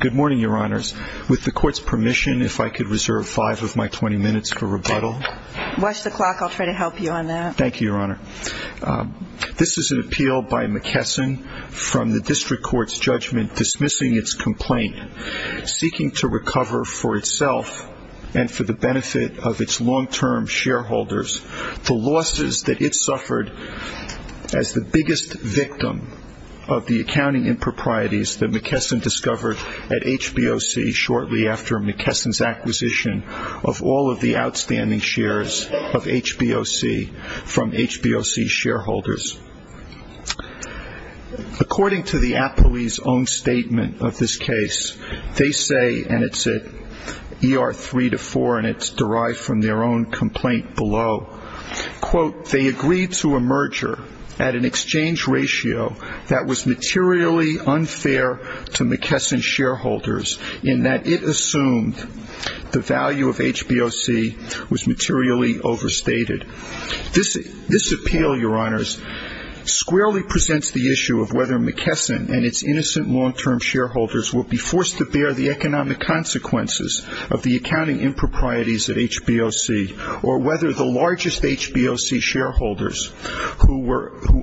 Good morning, Your Honors. With the Court's permission, if I could reserve five of my twenty minutes for rebuttal. Watch the clock. I'll try to help you on that. Thank you, Your Honor. This is an appeal by McKesson from the District Court's judgment dismissing its complaint, seeking to recover for itself and for the benefit of its long-term shareholders the losses that it suffered as the biggest victim of the accounting improprieties that McKesson discovered at HBOC shortly after McKesson's acquisition of all of the outstanding shares of HBOC from HBOC shareholders. According to the appellee's own statement of this case, they say, and it's at ER 3-4 and it's derived from their own complaint below, quote, they agreed to a merger at an exchange ratio that was materially unfair to McKesson shareholders in that it assumed the value of HBOC was materially overstated. This appeal, Your Honors, squarely presents the issue of whether McKesson and its innocent long-term shareholders will be forced to bear the economic consequences of the accounting improprieties at HBOC or whether the largest HBOC shareholders who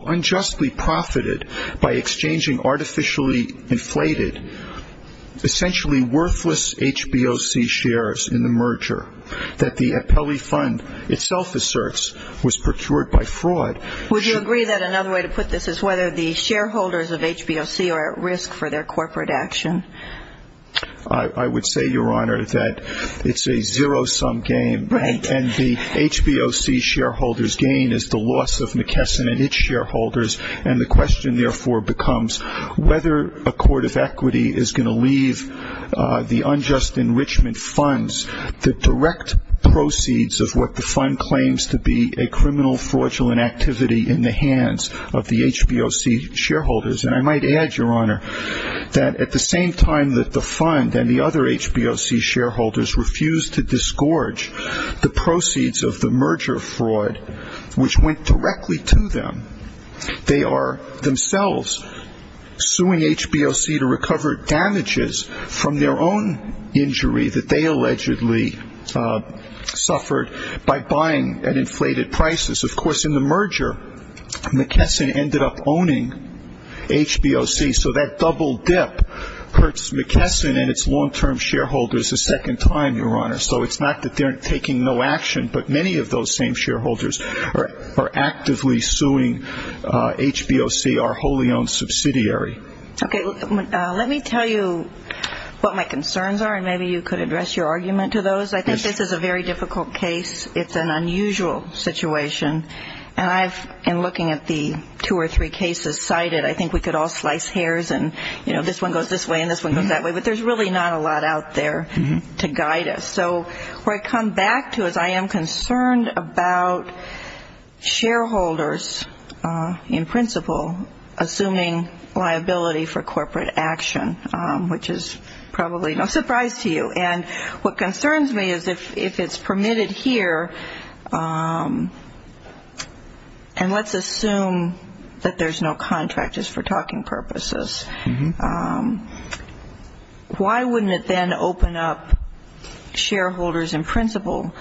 unjustly profited by exchanging artificially inflated, essentially worthless, HBOC shares in the merger that the appellee fund itself asserts was procured by fraud. Would you agree that another way to put this is whether the shareholders of HBOC are at risk for their corporate action? I would say, Your Honor, that it's a zero-sum game and the HBOC shareholders' gain is the loss of McKesson and its shareholders, and the question, therefore, becomes whether a court of equity is going to leave the unjust enrichment funds, the direct proceeds of what the fund claims to be a criminal, fraudulent activity in the hands of the HBOC shareholders. And I might add, Your Honor, that at the same time that the fund and the other HBOC shareholders refused to disgorge the proceeds of the merger fraud, which went directly to them, they are themselves suing HBOC to recover damages from their own injury that they allegedly suffered by buying at inflated prices. Of course, in the merger, McKesson ended up owning HBOC, so that double dip hurts McKesson and its long-term shareholders a second time, Your Honor. So it's not that they're taking no action, but many of those same shareholders are actively suing HBOC, our wholly-owned subsidiary. Okay, let me tell you what my concerns are, and maybe you could address your argument to those. I think this is a very difficult case. It's an unusual situation, and I've been looking at the two or three cases cited. I think we could all slice hairs and, you know, this one goes this way and this one goes that way, but there's really not a lot out there to guide us. So where I come back to is I am concerned about shareholders, in principle, assuming liability for corporate action, which is probably no surprise to you. And what concerns me is if it's permitted here, and let's assume that there's no contract just for talking purposes, why wouldn't it then open up shareholders in principle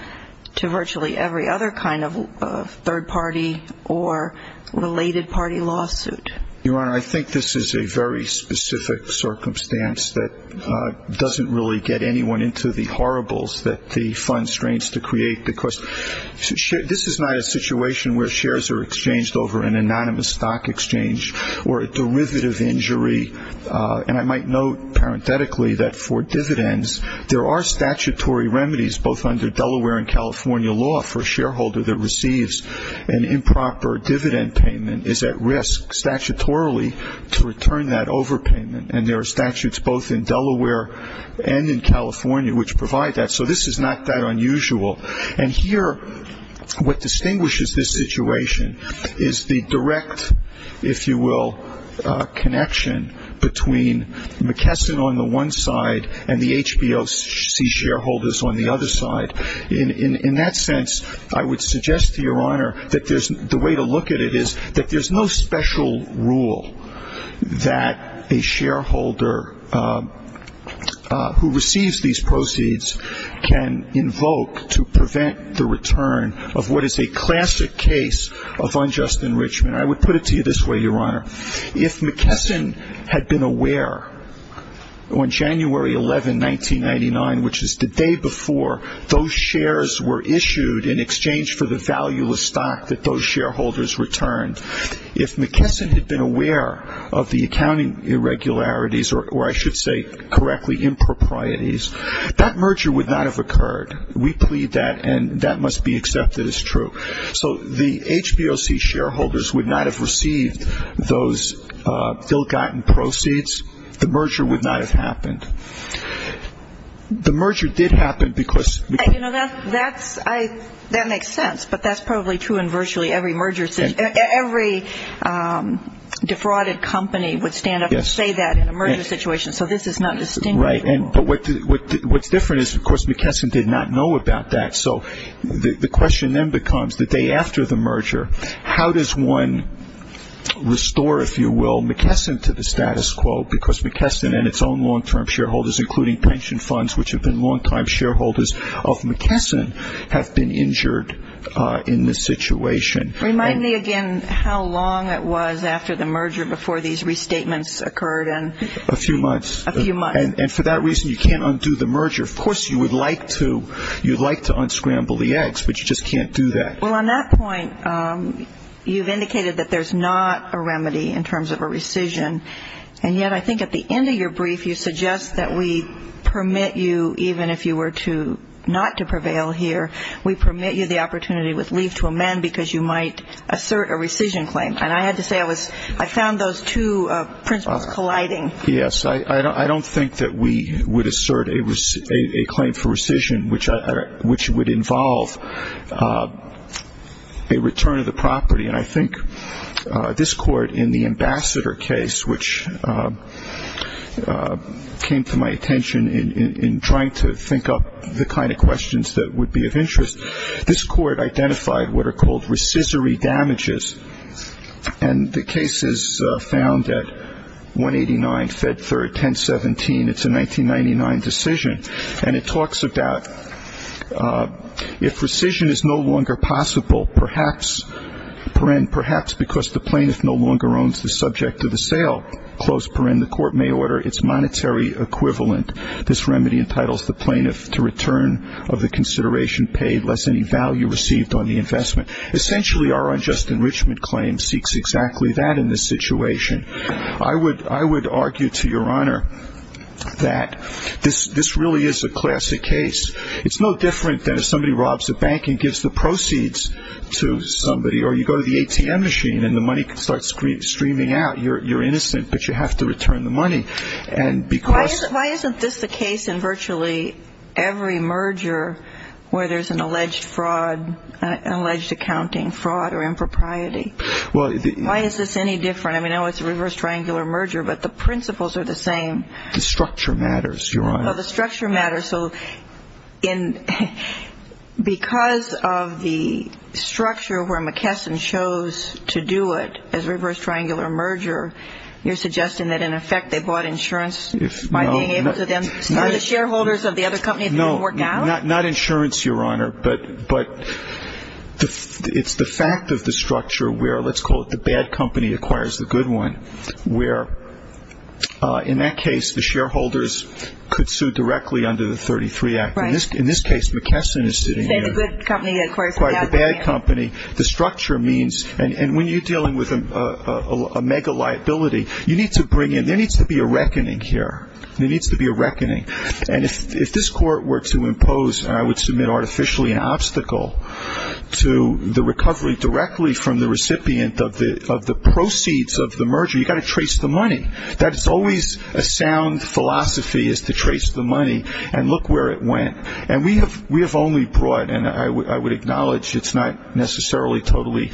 to virtually every other kind of third-party or related-party lawsuit? Your Honor, I think this is a very specific circumstance that doesn't really get anyone into the horribles that the fund strains to create. This is not a situation where shares are exchanged over an anonymous stock exchange or a derivative injury, and I might note parenthetically that for dividends, there are statutory remedies both under Delaware and California law for a shareholder that receives an improper dividend payment is at risk statutorily to return that overpayment, and there are statutes both in Delaware and in California which provide that. So this is not that unusual. And here, what distinguishes this situation is the direct, if you will, connection between McKesson on the one side and the HBOC shareholders on the other side. In that sense, I would suggest to Your Honor that the way to look at it is that there's no special rule that a shareholder who receives these proceeds can invoke to prevent the return of what is a classic case of unjust enrichment. I would put it to you this way, Your Honor. If McKesson had been aware on January 11, 1999, which is the day before those shares were issued in exchange for the valueless stock that those shareholders returned, if McKesson had been aware of the accounting irregularities, or I should say correctly, improprieties, that merger would not have occurred. We plead that, and that must be accepted as true. So the HBOC shareholders would not have received those ill-gotten proceeds. The merger would not have happened. The merger did happen because... You know, that makes sense, but that's probably true in virtually every merger situation. Every defrauded company would stand up and say that in a merger situation, so this is not distinguished at all. Right. But what's different is, of course, McKesson did not know about that, so the question then comes, the day after the merger, how does one restore, if you will, McKesson to the status quo? Because McKesson and its own long-term shareholders, including pension funds, which have been longtime shareholders of McKesson, have been injured in this situation. Remind me again how long it was after the merger before these restatements occurred and... A few months. And for that reason, you can't undo the merger. Of course, you would like to. You'd like to unscramble the eggs, but you just can't do that. Well, on that point, you've indicated that there's not a remedy in terms of a rescission, and yet I think at the end of your brief, you suggest that we permit you, even if you were to not to prevail here, we permit you the opportunity with leave to amend because you might assert a rescission claim, and I had to say I found those two principles colliding. Yes. I don't think that we would assert a claim for rescission, which would involve a return of the property, and I think this court in the Ambassador case, which came to my attention in trying to think up the kind of questions that would be of interest, this court identified what are called rescissory damages, and the case is found at 189 Fed Third, 1017. It's a 1999 decision, and it talks about if rescission is no longer possible, perhaps, perhaps because the plaintiff no longer owns the subject of the sale, the court may order its monetary equivalent. This remedy entitles the plaintiff to return of the consideration paid less any value received on the investment. Essentially, our unjust enrichment claim seeks exactly that in this situation. I would argue to your honor that this really is a classic case. It's no different than if somebody robs a bank and gives the proceeds to somebody, or you go to the ATM machine and the money starts streaming out. You're innocent, but you have to return the money, and because Why isn't this the case in virtually every merger where there's an alleged fraud, an alleged accounting fraud or impropriety? Why is this any different? I mean, I know it's a reverse triangular merger, but the principles are the same. The structure matters, your honor. The structure matters, so because of the structure where McKesson chose to do it as a reverse No, not insurance, your honor, but it's the fact of the structure where, let's call it the bad company acquires the good one, where in that case, the shareholders could sue directly under the 33 Act. In this case, McKesson is sitting here, the bad company. The structure means, and when you're dealing with a mega liability, there needs to be a reckoning here. There needs to be a reckoning, and if this court were to impose, and I would submit artificially an obstacle to the recovery directly from the recipient of the proceeds of the merger, you've got to trace the money. That is always a sound philosophy is to trace the money and look where it went, and we have only brought, and I would acknowledge it's not necessarily totally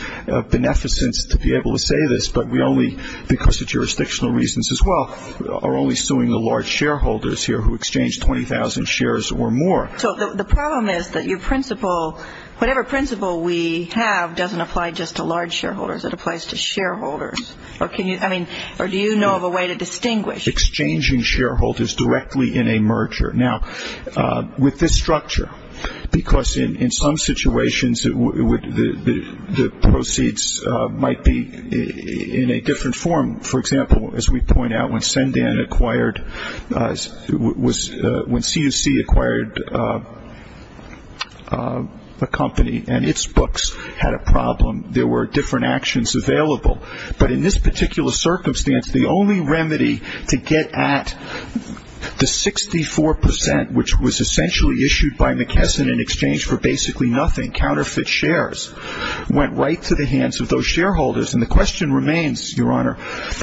beneficence to be are only suing the large shareholders here who exchanged 20,000 shares or more. So the problem is that your principle, whatever principle we have doesn't apply just to large shareholders. It applies to shareholders, or do you know of a way to distinguish? Exchanging shareholders directly in a merger. Now, with this structure, because in some situations, the proceeds might be in a different form. For example, as we point out, when C&C acquired a company and its books had a problem, there were different actions available, but in this particular circumstance, the only remedy to get at the 64 percent, which was essentially issued by McKesson in exchange for basically nothing, counterfeit shares, went right to the hands of those shareholders, and the question remains, Your Honor,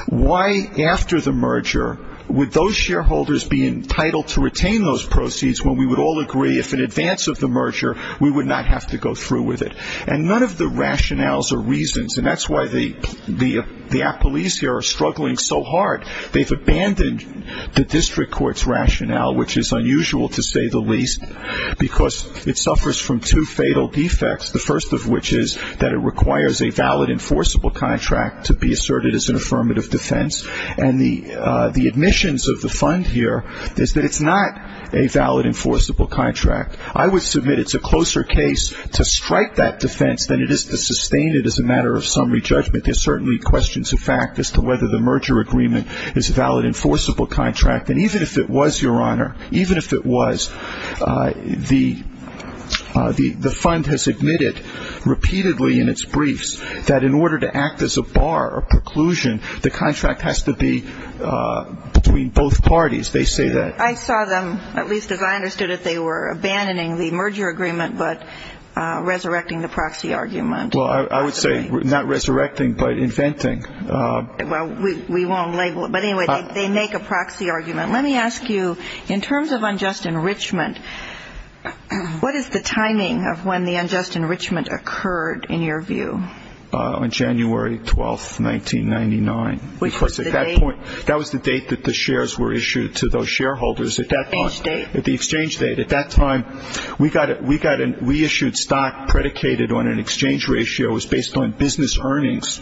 why after the merger would those shareholders be entitled to retain those proceeds when we would all agree if in advance of the merger, we would not have to go through with it? And none of the rationales or reasons, and that's why the police here are struggling so hard. They've abandoned the district court's rationale, which is unusual to say the least, because it suffers from two fatal defects, the first of which is that it requires a valid enforceable contract to be asserted as an affirmative defense, and the admissions of the fund here is that it's not a valid enforceable contract. I would submit it's a closer case to strike that defense than it is to sustain it as a matter of summary judgment. There's certainly questions of fact as to whether the merger agreement is a valid enforceable contract, and even if it was, Your Honor, even if it was, the fund has admitted repeatedly in its briefs that in order to act as a bar or preclusion, the contract has to be between both parties. They say that. I saw them, at least as I understood it, they were abandoning the merger agreement but resurrecting the proxy argument. Well, I would say not resurrecting, but inventing. Well, we won't label it, but anyway, they make a proxy argument. Let me ask you, in terms of unjust enrichment, what is the timing of when the unjust enrichment occurred, in your view? On January 12, 1999, because at that point, that was the date that the shares were issued to those shareholders. At that point. Exchange date. At the exchange date. At that time, we got a reissued stock predicated on an exchange ratio, it was based on business earnings,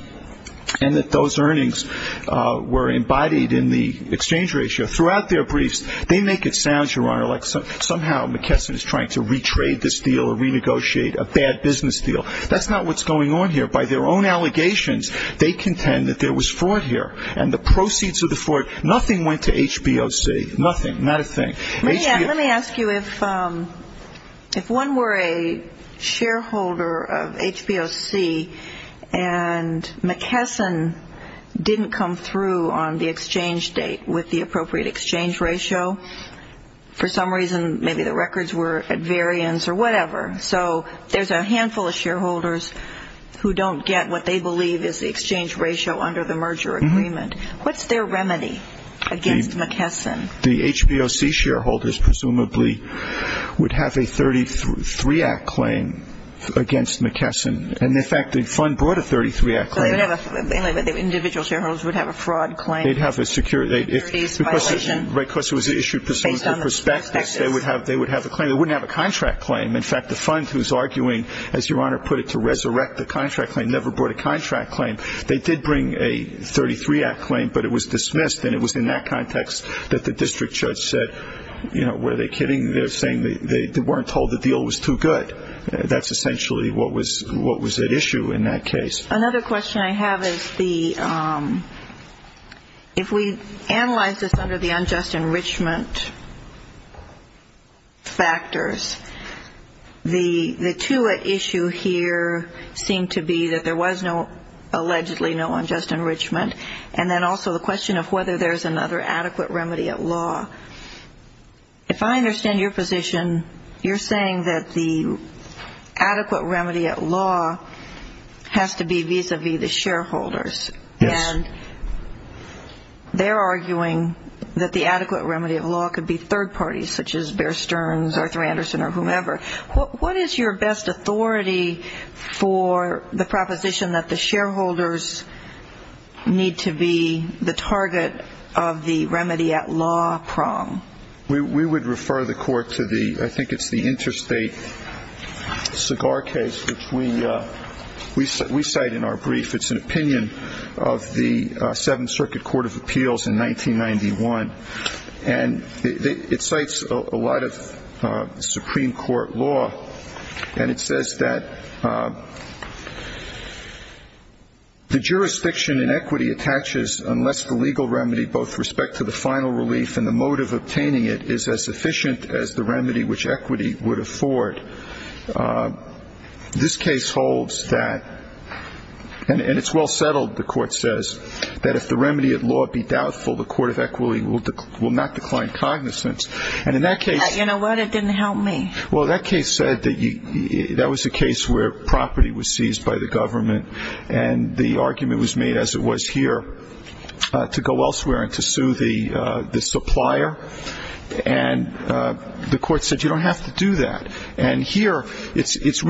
and that those earnings were embodied in the exchange ratio. Throughout their briefs, they make it sound, Your Honor, like somehow McKesson is trying to re-trade this deal or renegotiate a bad business deal. That's not what's going on here. By their own allegations, they contend that there was fraud here. And the proceeds of the fraud, nothing went to HBOC. Nothing. Not a thing. Let me ask you, if one were a shareholder of HBOC and McKesson didn't come through on the exchange date with the appropriate exchange ratio, for some reason, maybe the records were at variance or whatever. So there's a handful of shareholders who don't get what they believe is the exchange ratio under the merger agreement. What's their remedy against McKesson? The HBOC shareholders, presumably, would have a 33-act claim against McKesson. And in fact, the fund brought a 33-act claim out. Individual shareholders would have a fraud claim. They'd have a security violation. And so, of course, it was issued presumptive prospectus. They would have a claim. They wouldn't have a contract claim. In fact, the fund who's arguing, as Your Honor put it, to resurrect the contract claim never brought a contract claim. They did bring a 33-act claim, but it was dismissed. And it was in that context that the district judge said, you know, were they kidding? They're saying they weren't told the deal was too good. That's essentially what was at issue in that case. Another question I have is the, if we analyze this under the unjust enrichment factors, the two at issue here seem to be that there was no, allegedly, no unjust enrichment. And then also the question of whether there's another adequate remedy at law. If I understand your position, you're saying that the adequate remedy at law has to be vis-a-vis the shareholders. Yes. And they're arguing that the adequate remedy of law could be third parties, such as Bear Stearns, Arthur Anderson, or whomever. What is your best authority for the proposition that the shareholders need to be the target of the remedy at law prong? We would refer the court to the, I think it's the interstate cigar case, which we cite in our brief. It's an opinion of the Seventh Circuit Court of Appeals in 1991. And it cites a lot of Supreme Court law. And it says that the jurisdiction in equity attaches unless the legal remedy, both respect to the final relief and the motive obtaining it, is as efficient as the remedy which equity would afford. This case holds that, and it's well settled, the court says, that if the remedy at law be doubtful, the court of equity will not decline cognizance. And in that case. You know what? It didn't help me. Well, that case said that that was a case where property was seized by the government. And the argument was made, as it was here, to go elsewhere and to sue the supplier. And the court said you don't have to do that. And here, this is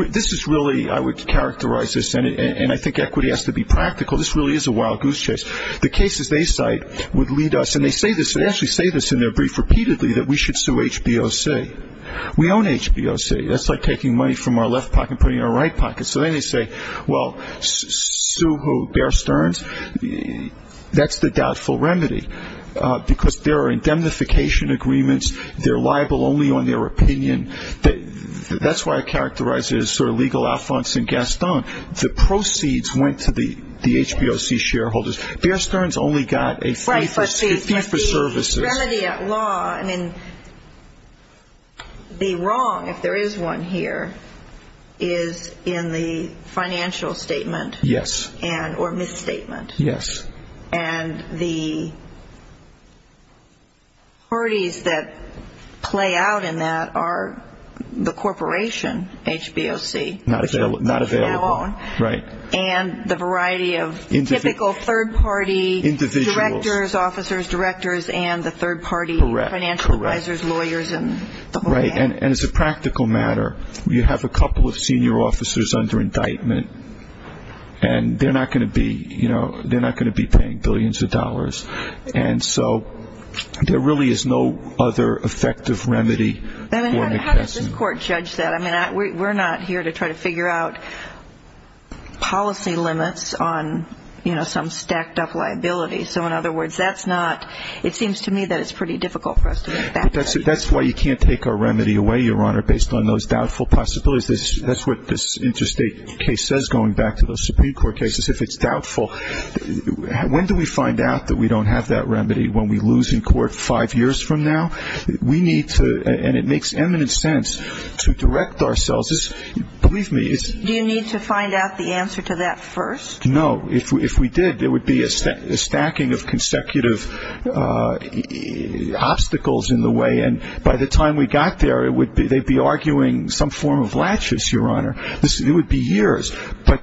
really, I would characterize this, and I think equity has to be practical. This really is a wild goose chase. The cases they cite would lead us. And they say this. They actually say this in their brief repeatedly, that we should sue HBOC. We own HBOC. That's like taking money from our left pocket and putting it in our right pocket. So then they say, well, sue who? Bear Stearns? That's the doubtful remedy. Because there are indemnification agreements. They're liable only on their opinion. That's why I characterize it as sort of legal affronts in Gaston. The proceeds went to the HBOC shareholders. Bear Stearns only got a fee for services. The remedy at law, I mean, the wrong, if there is one here, is in the financial statement. Yes. Or misstatement. Yes. And the parties that play out in that are the corporation, HBOC. Not available. Right. And the variety of typical third-party directors, officers, directors, and the third-party financial advisors, lawyers, and the whole cast. Right. And as a practical matter, you have a couple of senior officers under indictment, and they're not going to be paying billions of dollars. And so there really is no other effective remedy. How does this court judge that? I mean, we're not here to try to figure out policy limits on, you know, some stacked-up liability. So, in other words, that's not, it seems to me that it's pretty difficult for us to make that judgment. That's why you can't take our remedy away, Your Honor, based on those doubtful possibilities. That's what this interstate case says, going back to the Supreme Court cases, if it's doubtful. When do we find out that we don't have that remedy? When we lose in court five years from now? We need to, and it makes eminent sense to direct ourselves. Believe me. Do you need to find out the answer to that first? No. If we did, there would be a stacking of consecutive obstacles in the way. And by the time we got there, they'd be arguing some form of laches, Your Honor. It would be years. But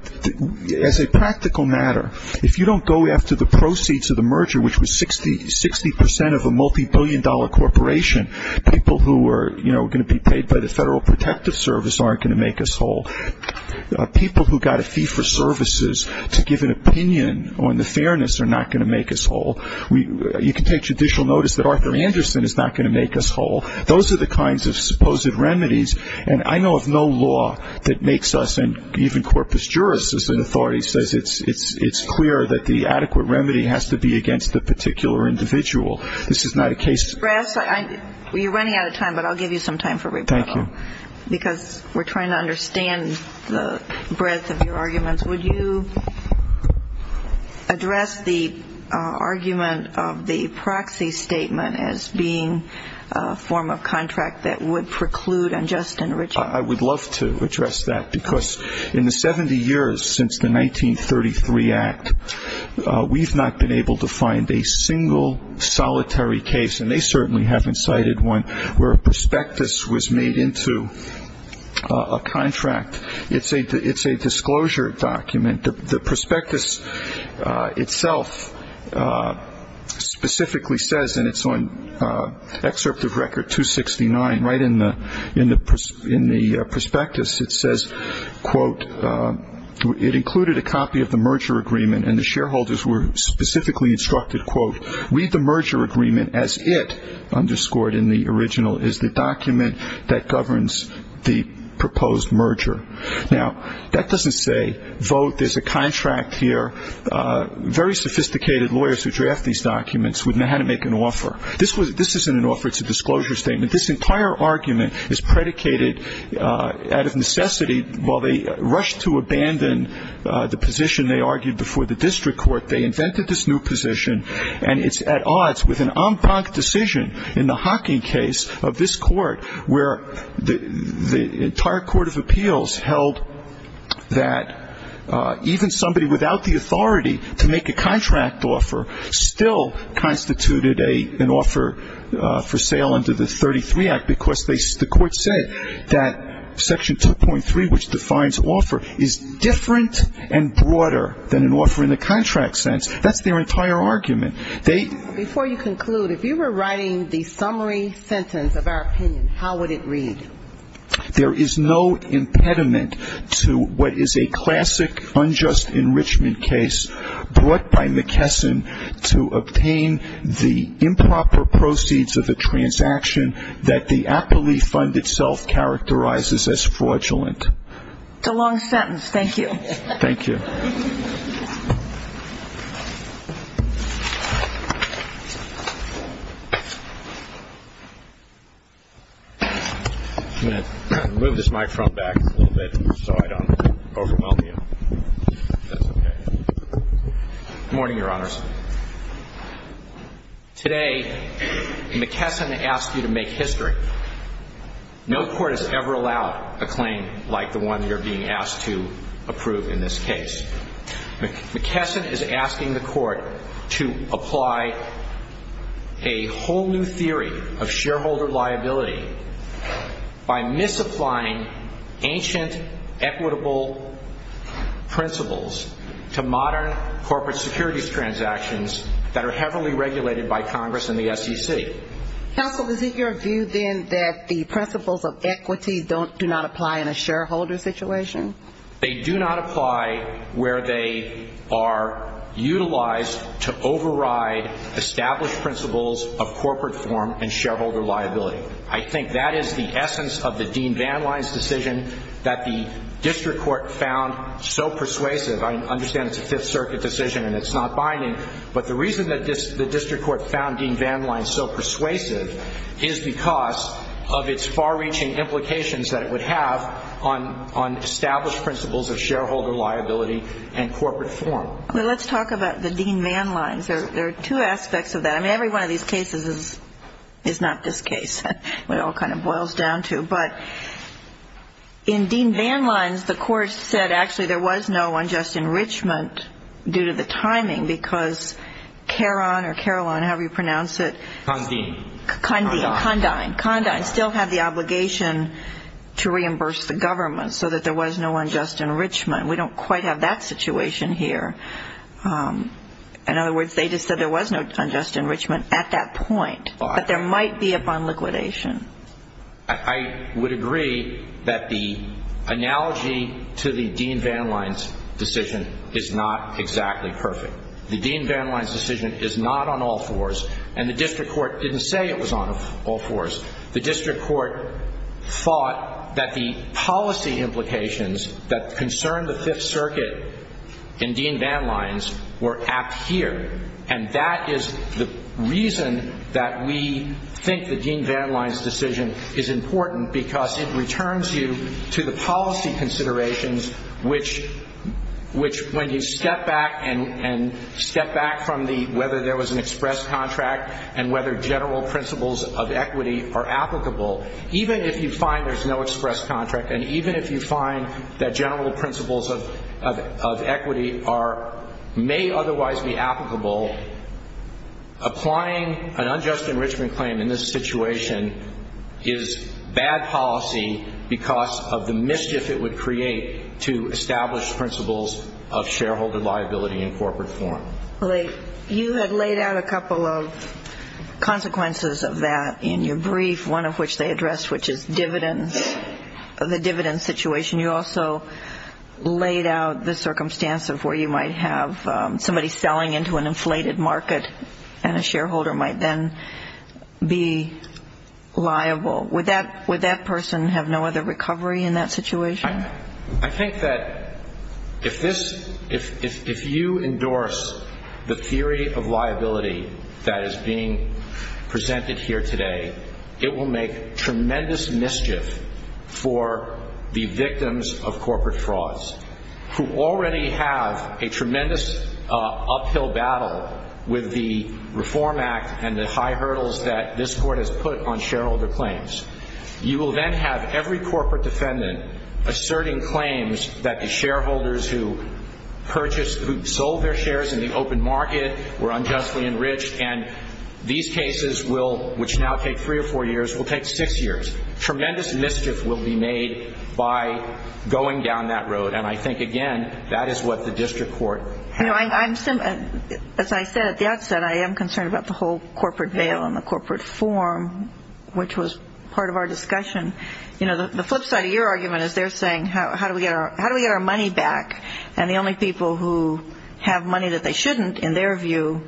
as a practical matter, if you don't go after the proceeds of the merger, which was 60 percent of a multibillion-dollar corporation, people who are, you know, going to be paid by the Federal Protective Service aren't going to make us whole. People who got a fee for services to give an opinion on the fairness are not going to make us whole. You can take judicial notice that Arthur Anderson is not going to make us whole. Those are the kinds of supposed remedies. And I know of no law that makes us, and even Corpus Juris, as an authority, says it's clear that the adequate remedy has to be against the particular individual. This is not a case. Brass, you're running out of time, but I'll give you some time for rebuttal. Thank you. Because we're trying to understand the breadth of your arguments. Would you address the argument of the proxy statement as being a form of contract that would preclude unjust enrichment? I would love to address that because in the 70 years since the 1933 Act, we've not been able to find a single solitary case, and they certainly haven't cited one where a prospectus was made into a contract. It's a disclosure document. The prospectus itself specifically says, and it's on excerpt of Record 269, right in the prospectus, it says, quote, it included a copy of the merger agreement, and the shareholders were specifically instructed, quote, read the merger agreement as it, underscored in the original, is the document that governs the proposed merger. Now, that doesn't say vote. There's a contract here. Very sophisticated lawyers who draft these documents would know how to make an offer. This isn't an offer. It's a disclosure statement. This entire argument is predicated out of necessity. While they rushed to abandon the position they argued before the district court, they invented this new position, and it's at odds with an en banc decision in the Hocking case of this court, where the entire court of appeals held that even somebody without the authority to make a contract offer still constituted an offer for sale under the 33 Act, because the court said that Section 2.3, which defines offer, is different and broader than an offer in the contract sense. That's their entire argument. Before you conclude, if you were writing the summary sentence of our opinion, how would it read? There is no impediment to what is a classic unjust enrichment case brought by McKesson to obtain the improper proceeds of a transaction that the aptly funded self characterizes as fraudulent. It's a long sentence. Thank you. Thank you. I'm going to move this microphone back a little bit so I don't overwhelm you. That's okay. Good morning, Your Honors. Today, McKesson asked you to make history. No court has ever allowed a claim like the one you're being asked to approve in this case. McKesson is asking the court to apply a whole new theory of shareholder liability by misapplying ancient equitable principles to modern corporate securities transactions that are heavily regulated by Congress and the SEC. Counsel, is it your view, then, that the principles of equity do not apply in a shareholder situation? They do not apply where they are utilized to override established principles of corporate form and shareholder liability. I think that is the essence of the Dean Van Lines decision that the district court found so persuasive. I understand it's a Fifth Circuit decision and it's not binding, but the reason that the district court found Dean Van Lines so persuasive is because of its far-reaching implications that it would have on established principles of shareholder liability and corporate form. Well, let's talk about the Dean Van Lines. There are two aspects of that. I mean, every one of these cases is not this case. It all kind of boils down to. But in Dean Van Lines, the court said actually there was no unjust enrichment due to the timing because Caron or Caroline, however you pronounce it. Condine. Condine. Condine. Condine still had the obligation to reimburse the government so that there was no unjust enrichment. We don't quite have that situation here. In other words, they just said there was no unjust enrichment at that point, but there might be upon liquidation. I would agree that the analogy to the Dean Van Lines decision is not exactly perfect. The Dean Van Lines decision is not on all fours, and the district court didn't say it was on all fours. The district court thought that the policy implications that concerned the Fifth Circuit in Dean Van Lines were at here, and that is the reason that we think the Dean Van Lines decision is important because it returns you to the policy considerations, which when you step back and step back from whether there was an express contract and whether general principles of equity are applicable, even if you find there's no express contract and even if you find that general principles of equity may otherwise be applicable, applying an unjust enrichment claim in this situation is bad policy because of the mischief it would create to establish principles of shareholder liability in corporate form. You had laid out a couple of consequences of that in your brief, one of which they addressed, which is the dividend situation. You also laid out the circumstance of where you might have somebody selling into an inflated market and a shareholder might then be liable. Would that person have no other recovery in that situation? I think that if you endorse the theory of liability that is being presented here today, it will make tremendous mischief for the victims of corporate frauds who already have a tremendous uphill battle with the Reform Act and the high hurdles that this Court has put on shareholder claims. You will then have every corporate defendant asserting claims that the shareholders who purchased, who sold their shares in the open market were unjustly enriched, and these cases, which now take three or four years, will take six years. Tremendous mischief will be made by going down that road, and I think, again, that is what the district court has to do. As I said at the outset, I am concerned about the whole corporate veil and the corporate form, which was part of our discussion. The flip side of your argument is they're saying, how do we get our money back? And the only people who have money that they shouldn't, in their view,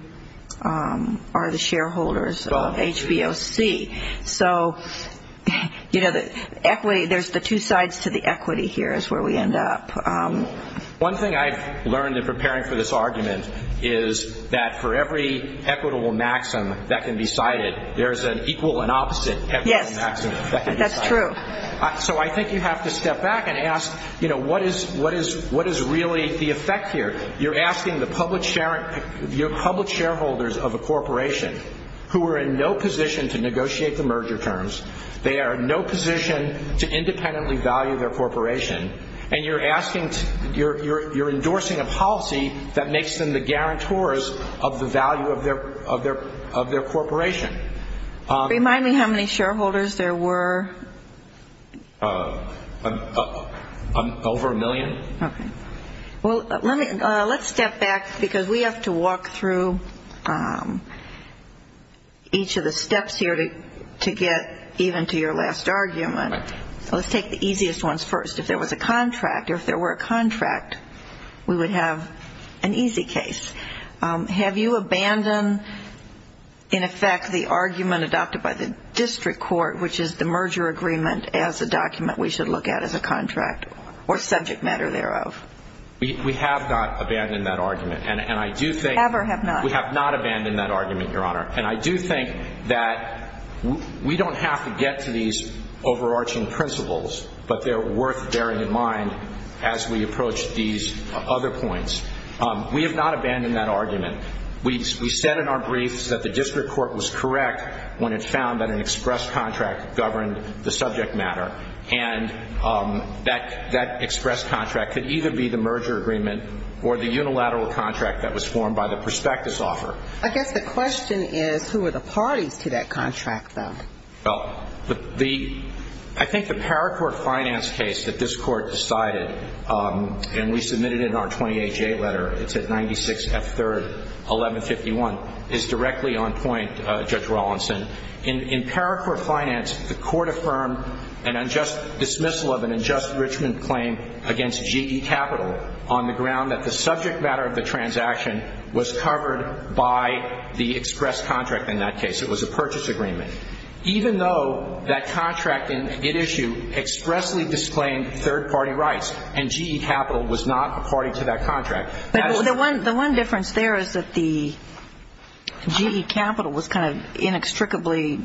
are the shareholders of HBOC. So, you know, there's the two sides to the equity here is where we end up. One thing I've learned in preparing for this argument is that for every equitable maxim that can be cited, there is an equal and opposite equitable maxim that can be cited. Yes, that's true. So I think you have to step back and ask, you know, what is really the effect here? You're asking the public shareholders of a corporation who are in no position to negotiate the merger terms, they are in no position to independently value their corporation, and you're asking, you're endorsing a policy that makes them the guarantors of the value of their corporation. Remind me how many shareholders there were. Over a million. Okay. Well, let's step back because we have to walk through each of the steps here to get even to your last argument. Let's take the easiest ones first. If there was a contract or if there were a contract, we would have an easy case. Have you abandoned, in effect, the argument adopted by the district court, which is the merger agreement as a document we should look at as a contract or subject matter thereof? We have not abandoned that argument. Have or have not? We have not abandoned that argument, Your Honor. And I do think that we don't have to get to these overarching principles, but they're worth bearing in mind as we approach these other points. We have not abandoned that argument. We said in our briefs that the district court was correct when it found that an express contract governed the subject matter, and that express contract could either be the merger agreement or the unilateral contract that was formed by the prospectus offer. I guess the question is, who are the parties to that contract, though? Well, I think the paracourt finance case that this court decided, and we submitted it in our 28-J letter, it's at 96F3rd 1151, is directly on point, Judge Rawlinson. In paracourt finance, the court affirmed an unjust dismissal of an unjust enrichment claim against GE Capital on the ground that the subject matter of the transaction was covered by the express contract in that case. It was a purchase agreement. Even though that contract in issue expressly disclaimed third-party rights and GE Capital was not a party to that contract. The one difference there is that the GE Capital was kind of inextricably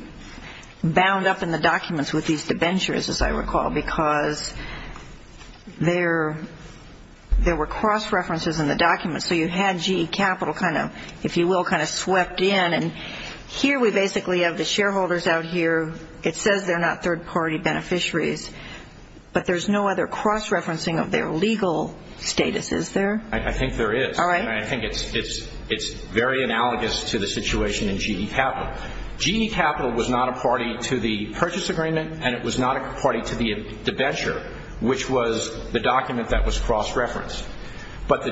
bound up in the documents with these debentures, as I recall, because there were cross-references in the documents. So you had GE Capital kind of, if you will, kind of swept in. Here we basically have the shareholders out here. It says they're not third-party beneficiaries, but there's no other cross-referencing of their legal status, is there? I think there is. All right. I think it's very analogous to the situation in GE Capital. GE Capital was not a party to the purchase agreement, and it was not a party to the debenture, which was the document that was cross-referenced. But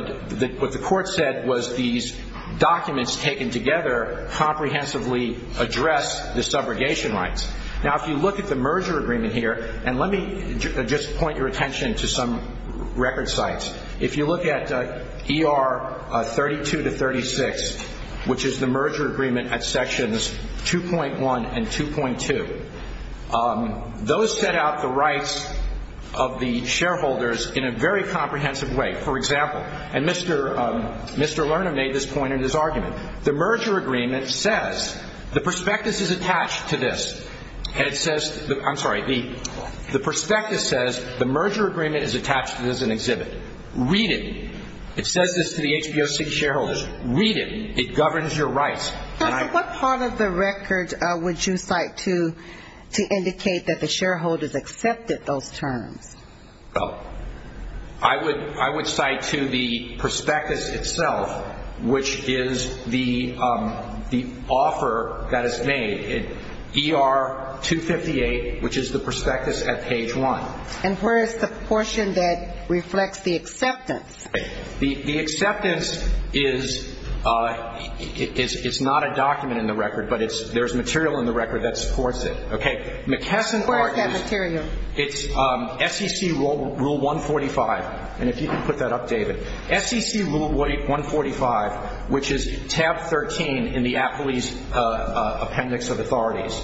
what the court said was these documents taken together comprehensively address the subrogation rights. Now, if you look at the merger agreement here, and let me just point your attention to some record sites. If you look at ER 32 to 36, which is the merger agreement at sections 2.1 and 2.2, those set out the rights of the shareholders in a very comprehensive way. For example, and Mr. Lerner made this point in his argument, the merger agreement says the prospectus is attached to this. I'm sorry, the prospectus says the merger agreement is attached to this as an exhibit. Read it. It says this to the HPOC shareholders. Read it. It governs your rights. What part of the record would you cite to indicate that the shareholders accepted those terms? I would cite to the prospectus itself, which is the offer that is made. ER 258, which is the prospectus at page 1. And where is the portion that reflects the acceptance? The acceptance is not a document in the record, but there's material in the record that supports it. McKesson argues it's SEC Rule 145. And if you could put that up, David. SEC Rule 145, which is tab 13 in the Appellee's Appendix of Authorities.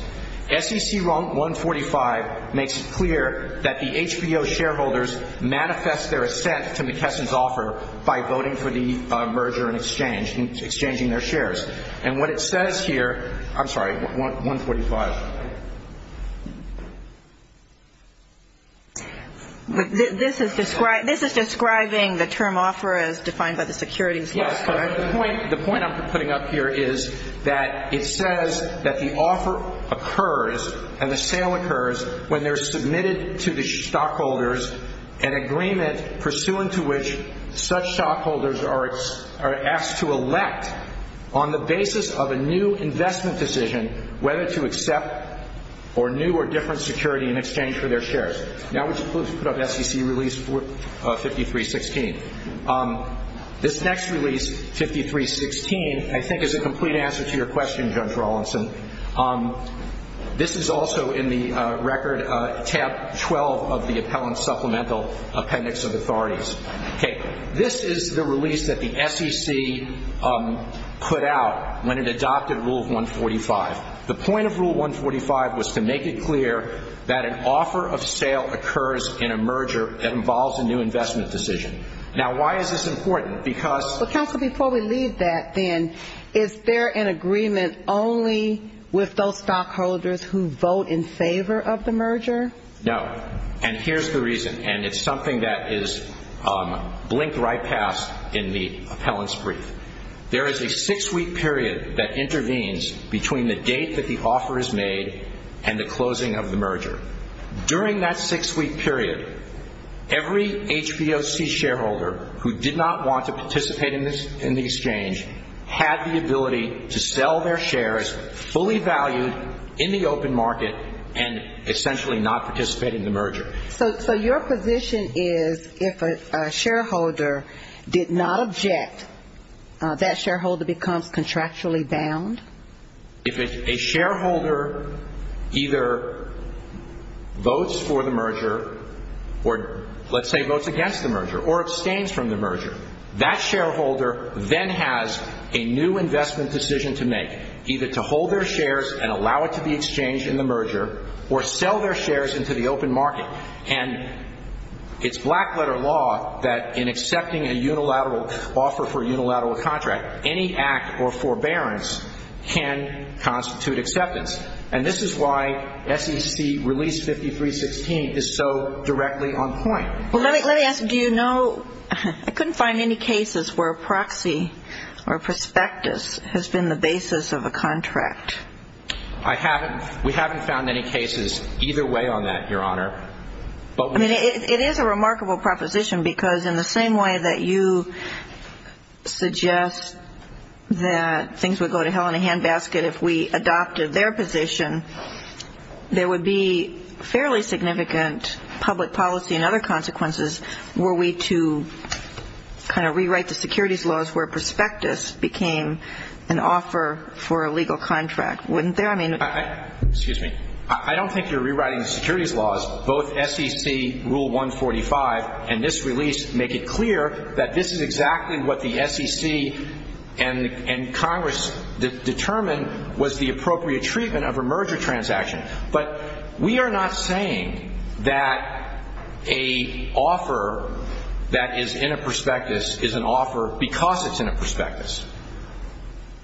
SEC Rule 145 makes it clear that the HPO shareholders manifest their assent to McKesson's offer by voting for the merger and exchange, exchanging their shares. And what it says here, I'm sorry, 145. This is describing the term offer as defined by the securities list, correct? The point I'm putting up here is that it says that the offer occurs and the sale occurs when they're submitted to the stockholders, an agreement pursuant to which such stockholders are asked to elect, on the basis of a new investment decision, whether to accept or new or different security in exchange for their shares. Now let's put up SEC Release 5316. This next release, 5316, I think is a complete answer to your question, Judge Rawlinson. This is also in the record, tab 12 of the Appellant Supplemental Appendix of Authorities. This is the release that the SEC put out when it adopted Rule 145. The point of Rule 145 was to make it clear that an offer of sale occurs in a merger that involves a new investment decision. Now why is this important? Counsel, before we leave that then, is there an agreement only with those stockholders who vote in favor of the merger? No. And here's the reason, and it's something that is blinked right past in the appellant's brief. There is a six-week period that intervenes between the date that the offer is made and the closing of the merger. During that six-week period, every HPOC shareholder who did not want to participate in the exchange had the ability to sell their shares fully valued in the open market and essentially not participate in the merger. So your position is if a shareholder did not object, that shareholder becomes contractually bound? If a shareholder either votes for the merger or, let's say, votes against the merger or abstains from the merger, that shareholder then has a new investment decision to make, either to hold their shares and allow it to be exchanged in the merger or sell their shares into the open market. And it's black-letter law that in accepting a unilateral offer for a unilateral contract, any act or forbearance can constitute acceptance. And this is why SEC Release 5316 is so directly on point. Well, let me ask, do you know – I couldn't find any cases where a proxy or a prospectus has been the basis of a contract. I haven't – we haven't found any cases either way on that, Your Honor. I mean, it is a remarkable proposition because in the same way that you suggest that things would go to hell in a handbasket if we adopted their position, there would be fairly significant public policy and other consequences were we to kind of rewrite the securities laws where prospectus became an offer for a legal contract, wouldn't there? I mean – Excuse me. I don't think you're rewriting the securities laws. Both SEC Rule 145 and this release make it clear that this is exactly what the SEC and Congress determined was the appropriate treatment of a merger transaction. But we are not saying that a offer that is in a prospectus is an offer because it's in a prospectus.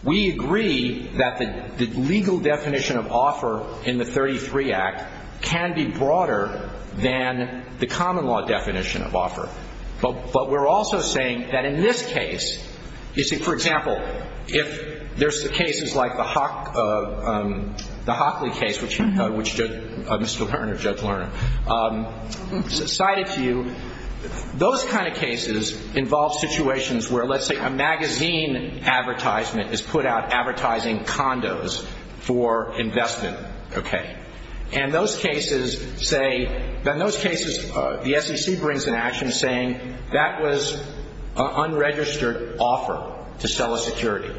We agree that the legal definition of offer in the 33 Act can be broader than the common law definition of offer. But we're also saying that in this case, you see, for example, if there's cases like the Hockley case, which Mr. Lerner, Judge Lerner, cited to you, those kind of cases involve situations where let's say a magazine advertisement is put out advertising condos for investment. Okay. And those cases say – in those cases, the SEC brings an action saying that was an unregistered offer to sell a security.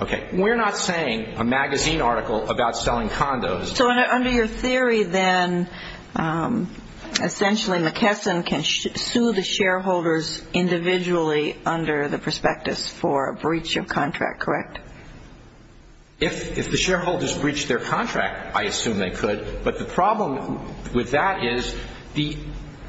Okay. We're not saying a magazine article about selling condos – So under your theory then, essentially McKesson can sue the shareholders individually under the prospectus for a breach of contract, correct? If the shareholders breached their contract, I assume they could. But the problem with that is the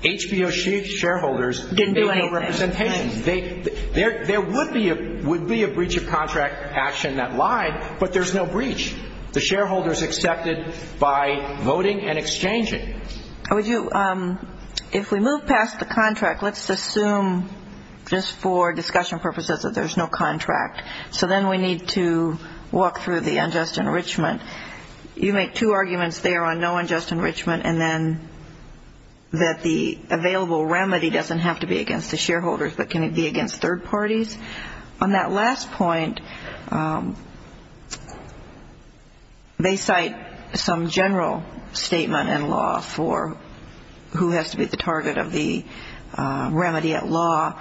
HBO shareholders didn't do any representations. There would be a breach of contract action that lied, but there's no breach. The shareholders accepted by voting and exchanging. Would you – if we move past the contract, let's assume just for discussion purposes that there's no contract. So then we need to walk through the unjust enrichment. You make two arguments there on no unjust enrichment and then that the available remedy doesn't have to be against the shareholders, but can it be against third parties? On that last point, they cite some general statement in law for who has to be the target of the remedy at law.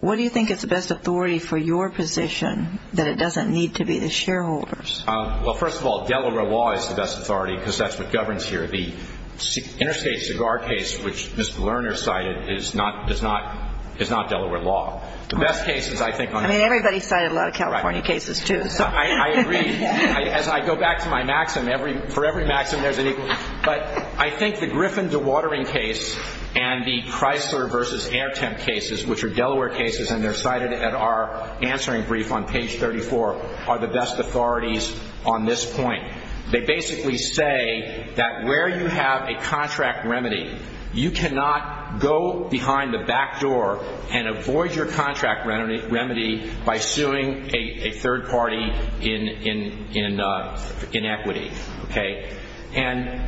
What do you think is the best authority for your position that it doesn't need to be the shareholders? Well, first of all, Delaware law is the best authority because that's what governs here. The Interstate Cigar case, which Mr. Lerner cited, is not Delaware law. The best case is I think – I mean, everybody cited a lot of California cases too. I agree. As I go back to my maxim, for every maxim there's an equal – But I think the Griffin dewatering case and the Chrysler versus Airtem cases, which are Delaware cases, and they're cited at our answering brief on page 34, are the best authorities on this point. They basically say that where you have a contract remedy, you cannot go behind the back door and avoid your contract remedy by suing a third party in equity. And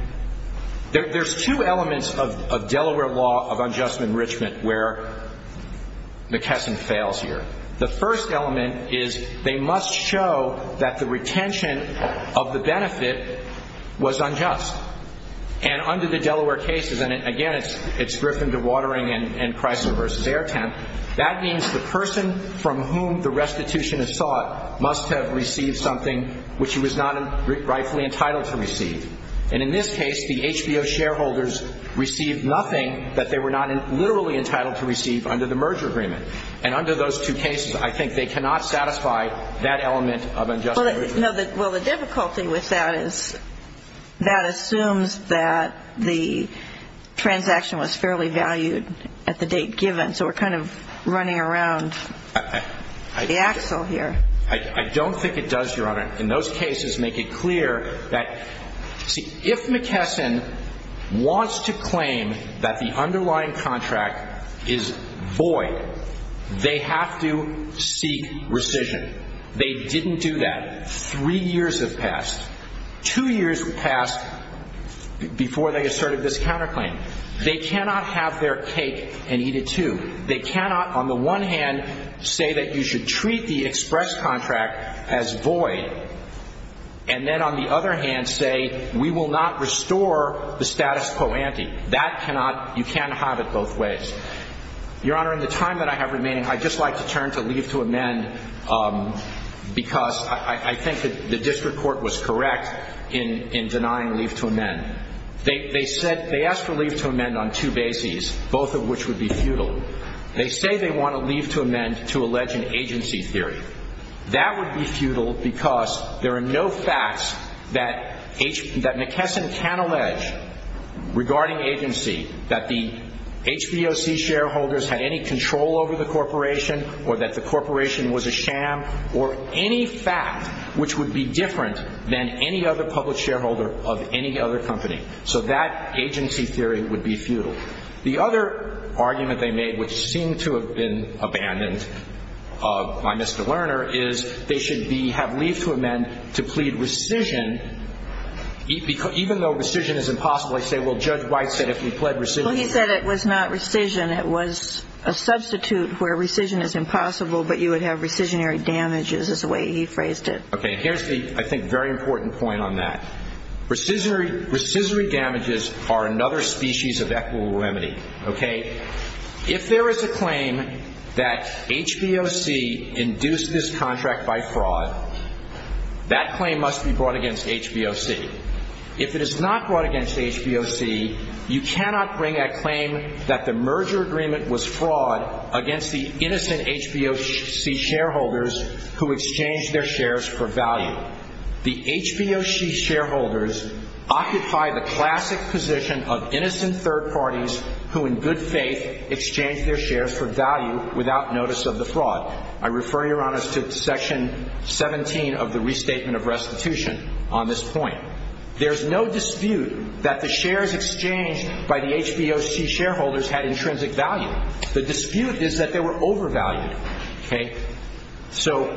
there's two elements of Delaware law of unjust enrichment where McKesson fails here. The first element is they must show that the retention of the benefit was unjust. And under the Delaware cases, and again, it's Griffin dewatering and Chrysler versus Airtem, that means the person from whom the restitution is sought must have received something which he was not rightfully entitled to receive. And in this case, the HBO shareholders received nothing that they were not literally entitled to receive under the merger agreement. And under those two cases, I think they cannot satisfy that element of unjust enrichment. Well, the difficulty with that is that assumes that the transaction was fairly valued at the date given, so we're kind of running around the axle here. I don't think it does, Your Honor. In those cases, make it clear that, see, if McKesson wants to claim that the underlying contract is void, they have to seek rescission. They didn't do that. Three years have passed. Two years passed before they asserted this counterclaim. They cannot have their cake and eat it too. They cannot, on the one hand, say that you should treat the express contract as void, and then, on the other hand, say we will not restore the status quo ante. That cannot, you can't have it both ways. Your Honor, in the time that I have remaining, I'd just like to turn to leave to amend, because I think that the district court was correct in denying leave to amend. They asked for leave to amend on two bases, both of which would be futile. They say they want to leave to amend to allege an agency theory. That would be futile because there are no facts that McKesson can allege regarding agency, that the HVOC shareholders had any control over the corporation or that the corporation was a sham or any fact which would be different than any other public shareholder of any other company. So that agency theory would be futile. The other argument they made, which seemed to have been abandoned by Mr. Lerner, is they should have leave to amend to plead rescission, even though rescission is impossible. They say, well, Judge White said if we pled rescission. Well, he said it was not rescission. It was a substitute where rescission is impossible, but you would have rescissionary damages is the way he phrased it. Okay. Here's the, I think, very important point on that. Rescissionary damages are another species of equivalent remedy. Okay. If there is a claim that HVOC induced this contract by fraud, that claim must be brought against HVOC. If it is not brought against HVOC, you cannot bring a claim that the merger agreement was fraud against the innocent HVOC shareholders who exchanged their shares for value. The HVOC shareholders occupy the classic position of innocent third parties who in good faith exchange their shares for value without notice of the fraud. I refer you, Your Honor, to Section 17 of the Restatement of Restitution on this point. There's no dispute that the shares exchanged by the HVOC shareholders had intrinsic value. The dispute is that they were overvalued. Okay. So,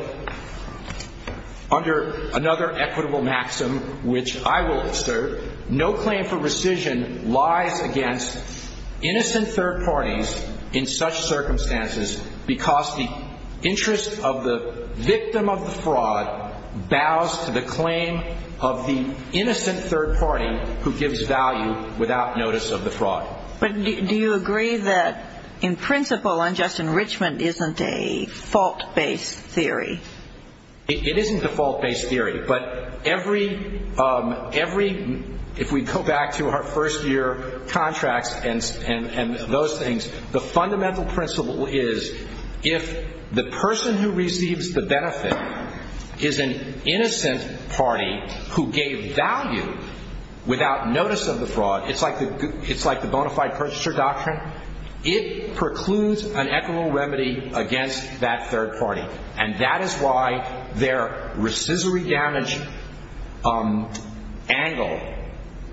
under another equitable maxim, which I will assert, no claim for rescission lies against innocent third parties in such circumstances because the interest of the victim of the fraud bows to the claim of the innocent third party who gives value without notice of the fraud. But do you agree that, in principle, unjust enrichment isn't a fault-based theory? It isn't a fault-based theory. But every, if we go back to our first-year contracts and those things, the fundamental principle is if the person who receives the benefit is an innocent party who gave value without notice of the fraud, it's like the bona fide purchaser doctrine, it precludes an equitable remedy against that third party. And that is why their rescissory damage angle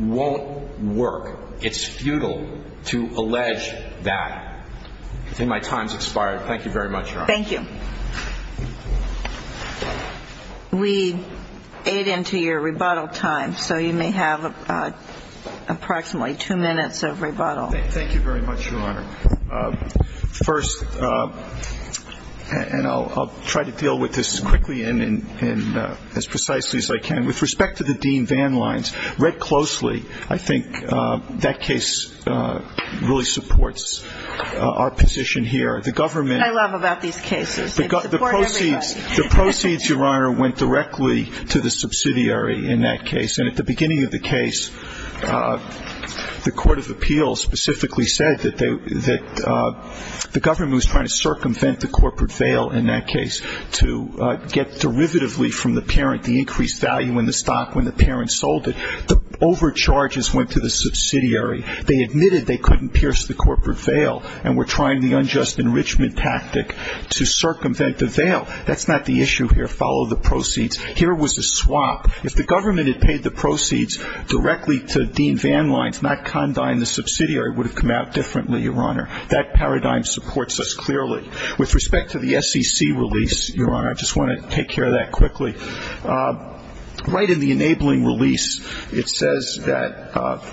won't work. It's futile to allege that. I think my time's expired. Thank you very much, Your Honor. Thank you. We aid into your rebuttal time, so you may have approximately two minutes of rebuttal. Thank you very much, Your Honor. First, and I'll try to deal with this quickly and as precisely as I can. With respect to the Dean Van Lines, read closely, I think that case really supports our position here. I love about these cases. They support everybody. The proceeds, Your Honor, went directly to the subsidiary in that case. And at the beginning of the case, the court of appeals specifically said that the government was trying to circumvent the corporate veil in that case to get derivatively from the parent the increased value in the stock when the parent sold it. The overcharges went to the subsidiary. They admitted they couldn't pierce the corporate veil and were trying the unjust enrichment tactic to circumvent the veil. That's not the issue here. Follow the proceeds. Here was a swap. If the government had paid the proceeds directly to Dean Van Lines, not Condine, the subsidiary would have come out differently, Your Honor. That paradigm supports us clearly. With respect to the SEC release, Your Honor, I just want to take care of that quickly. Right in the enabling release, it says that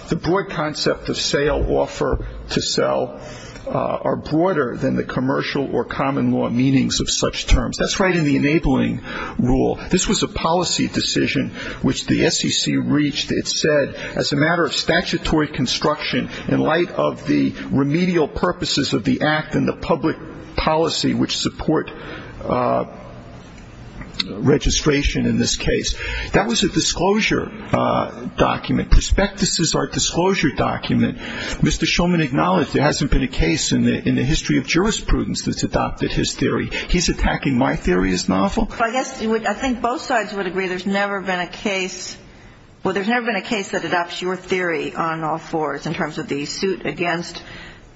the broad concept of sale, offer to sell, are broader than the commercial or common law meanings of such terms. That's right in the enabling rule. This was a policy decision which the SEC reached. It said as a matter of statutory construction in light of the remedial purposes of the act and the public policy which support registration in this case. That was a disclosure document. Prospectus is our disclosure document. Mr. Shulman acknowledged there hasn't been a case in the history of jurisprudence that's adopted his theory. He's attacking my theory as novel? Well, I guess I think both sides would agree there's never been a case. Well, there's never been a case that adopts your theory on all fours in terms of the suit against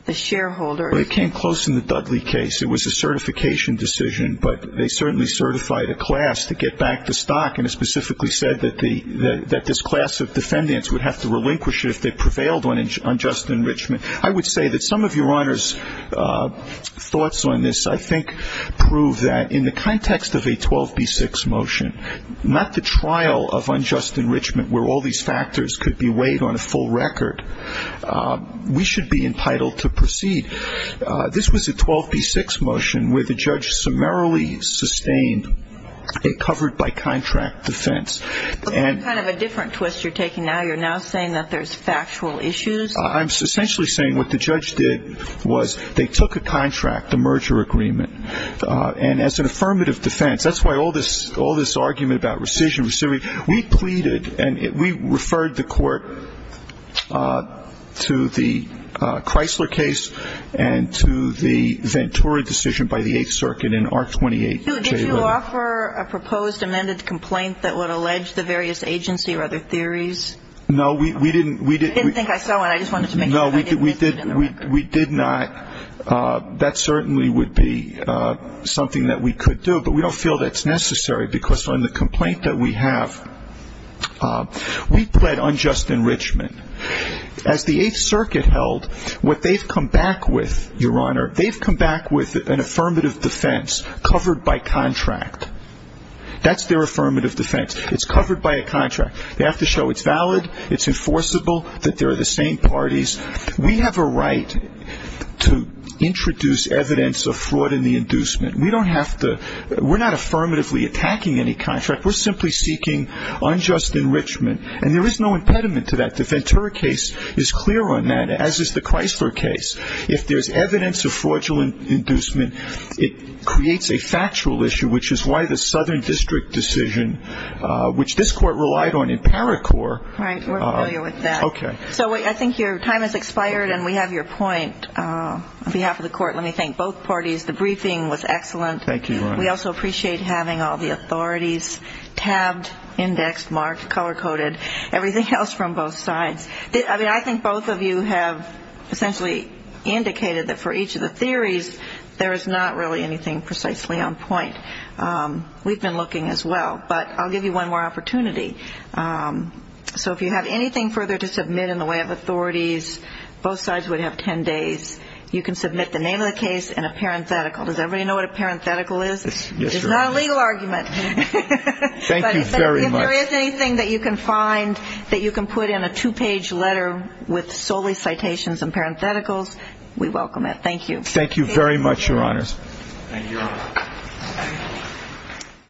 the shareholders. Well, it came close in the Dudley case. It was a certification decision, but they certainly certified a class to get back the stock, and it specifically said that this class of defendants would have to relinquish it if they prevailed on just enrichment. I would say that some of Your Honor's thoughts on this, I think, prove that in the context of a 12b-6 motion, not the trial of unjust enrichment where all these factors could be weighed on a full record. We should be entitled to proceed. This was a 12b-6 motion where the judge summarily sustained a covered-by-contract defense. That's kind of a different twist you're taking now. You're now saying that there's factual issues? I'm essentially saying what the judge did was they took a contract, a merger agreement. And as an affirmative defense, that's why all this argument about rescission, we pleaded and we referred the court to the Chrysler case and to the Ventura decision by the Eighth Circuit in Art 28. Did you offer a proposed amended complaint that would allege the various agency or other theories? No, we didn't. I didn't think I saw one. I just wanted to make sure. No, we did not. That certainly would be something that we could do, but we don't feel that's necessary because on the complaint that we have, we pled unjust enrichment. As the Eighth Circuit held, what they've come back with, Your Honor, they've come back with an affirmative defense covered by contract. That's their affirmative defense. It's covered by a contract. They have to show it's valid, it's enforceable, that they're the same parties. We have a right to introduce evidence of fraud in the inducement. We don't have to. We're not affirmatively attacking any contract. We're simply seeking unjust enrichment, and there is no impediment to that. The Ventura case is clear on that, as is the Chrysler case. If there's evidence of fraudulent inducement, it creates a factual issue, which is why the Southern District decision, which this Court relied on in ParaCore. Right. We're familiar with that. Okay. So I think your time has expired, and we have your point. On behalf of the Court, let me thank both parties. The briefing was excellent. Thank you, Your Honor. We also appreciate having all the authorities tabbed, indexed, marked, color-coded, everything else from both sides. I mean, I think both of you have essentially indicated that for each of the theories, there is not really anything precisely on point. We've been looking as well. But I'll give you one more opportunity. So if you have anything further to submit in the way of authorities, both sides would have ten days. You can submit the name of the case in a parenthetical. Does everybody know what a parenthetical is? Yes, Your Honor. It's not a legal argument. Thank you very much. But if there is anything that you can find that you can put in a two-page letter with solely citations and parentheticals, we welcome it. Thank you. Thank you very much, Your Honors. Thank you, Your Honor.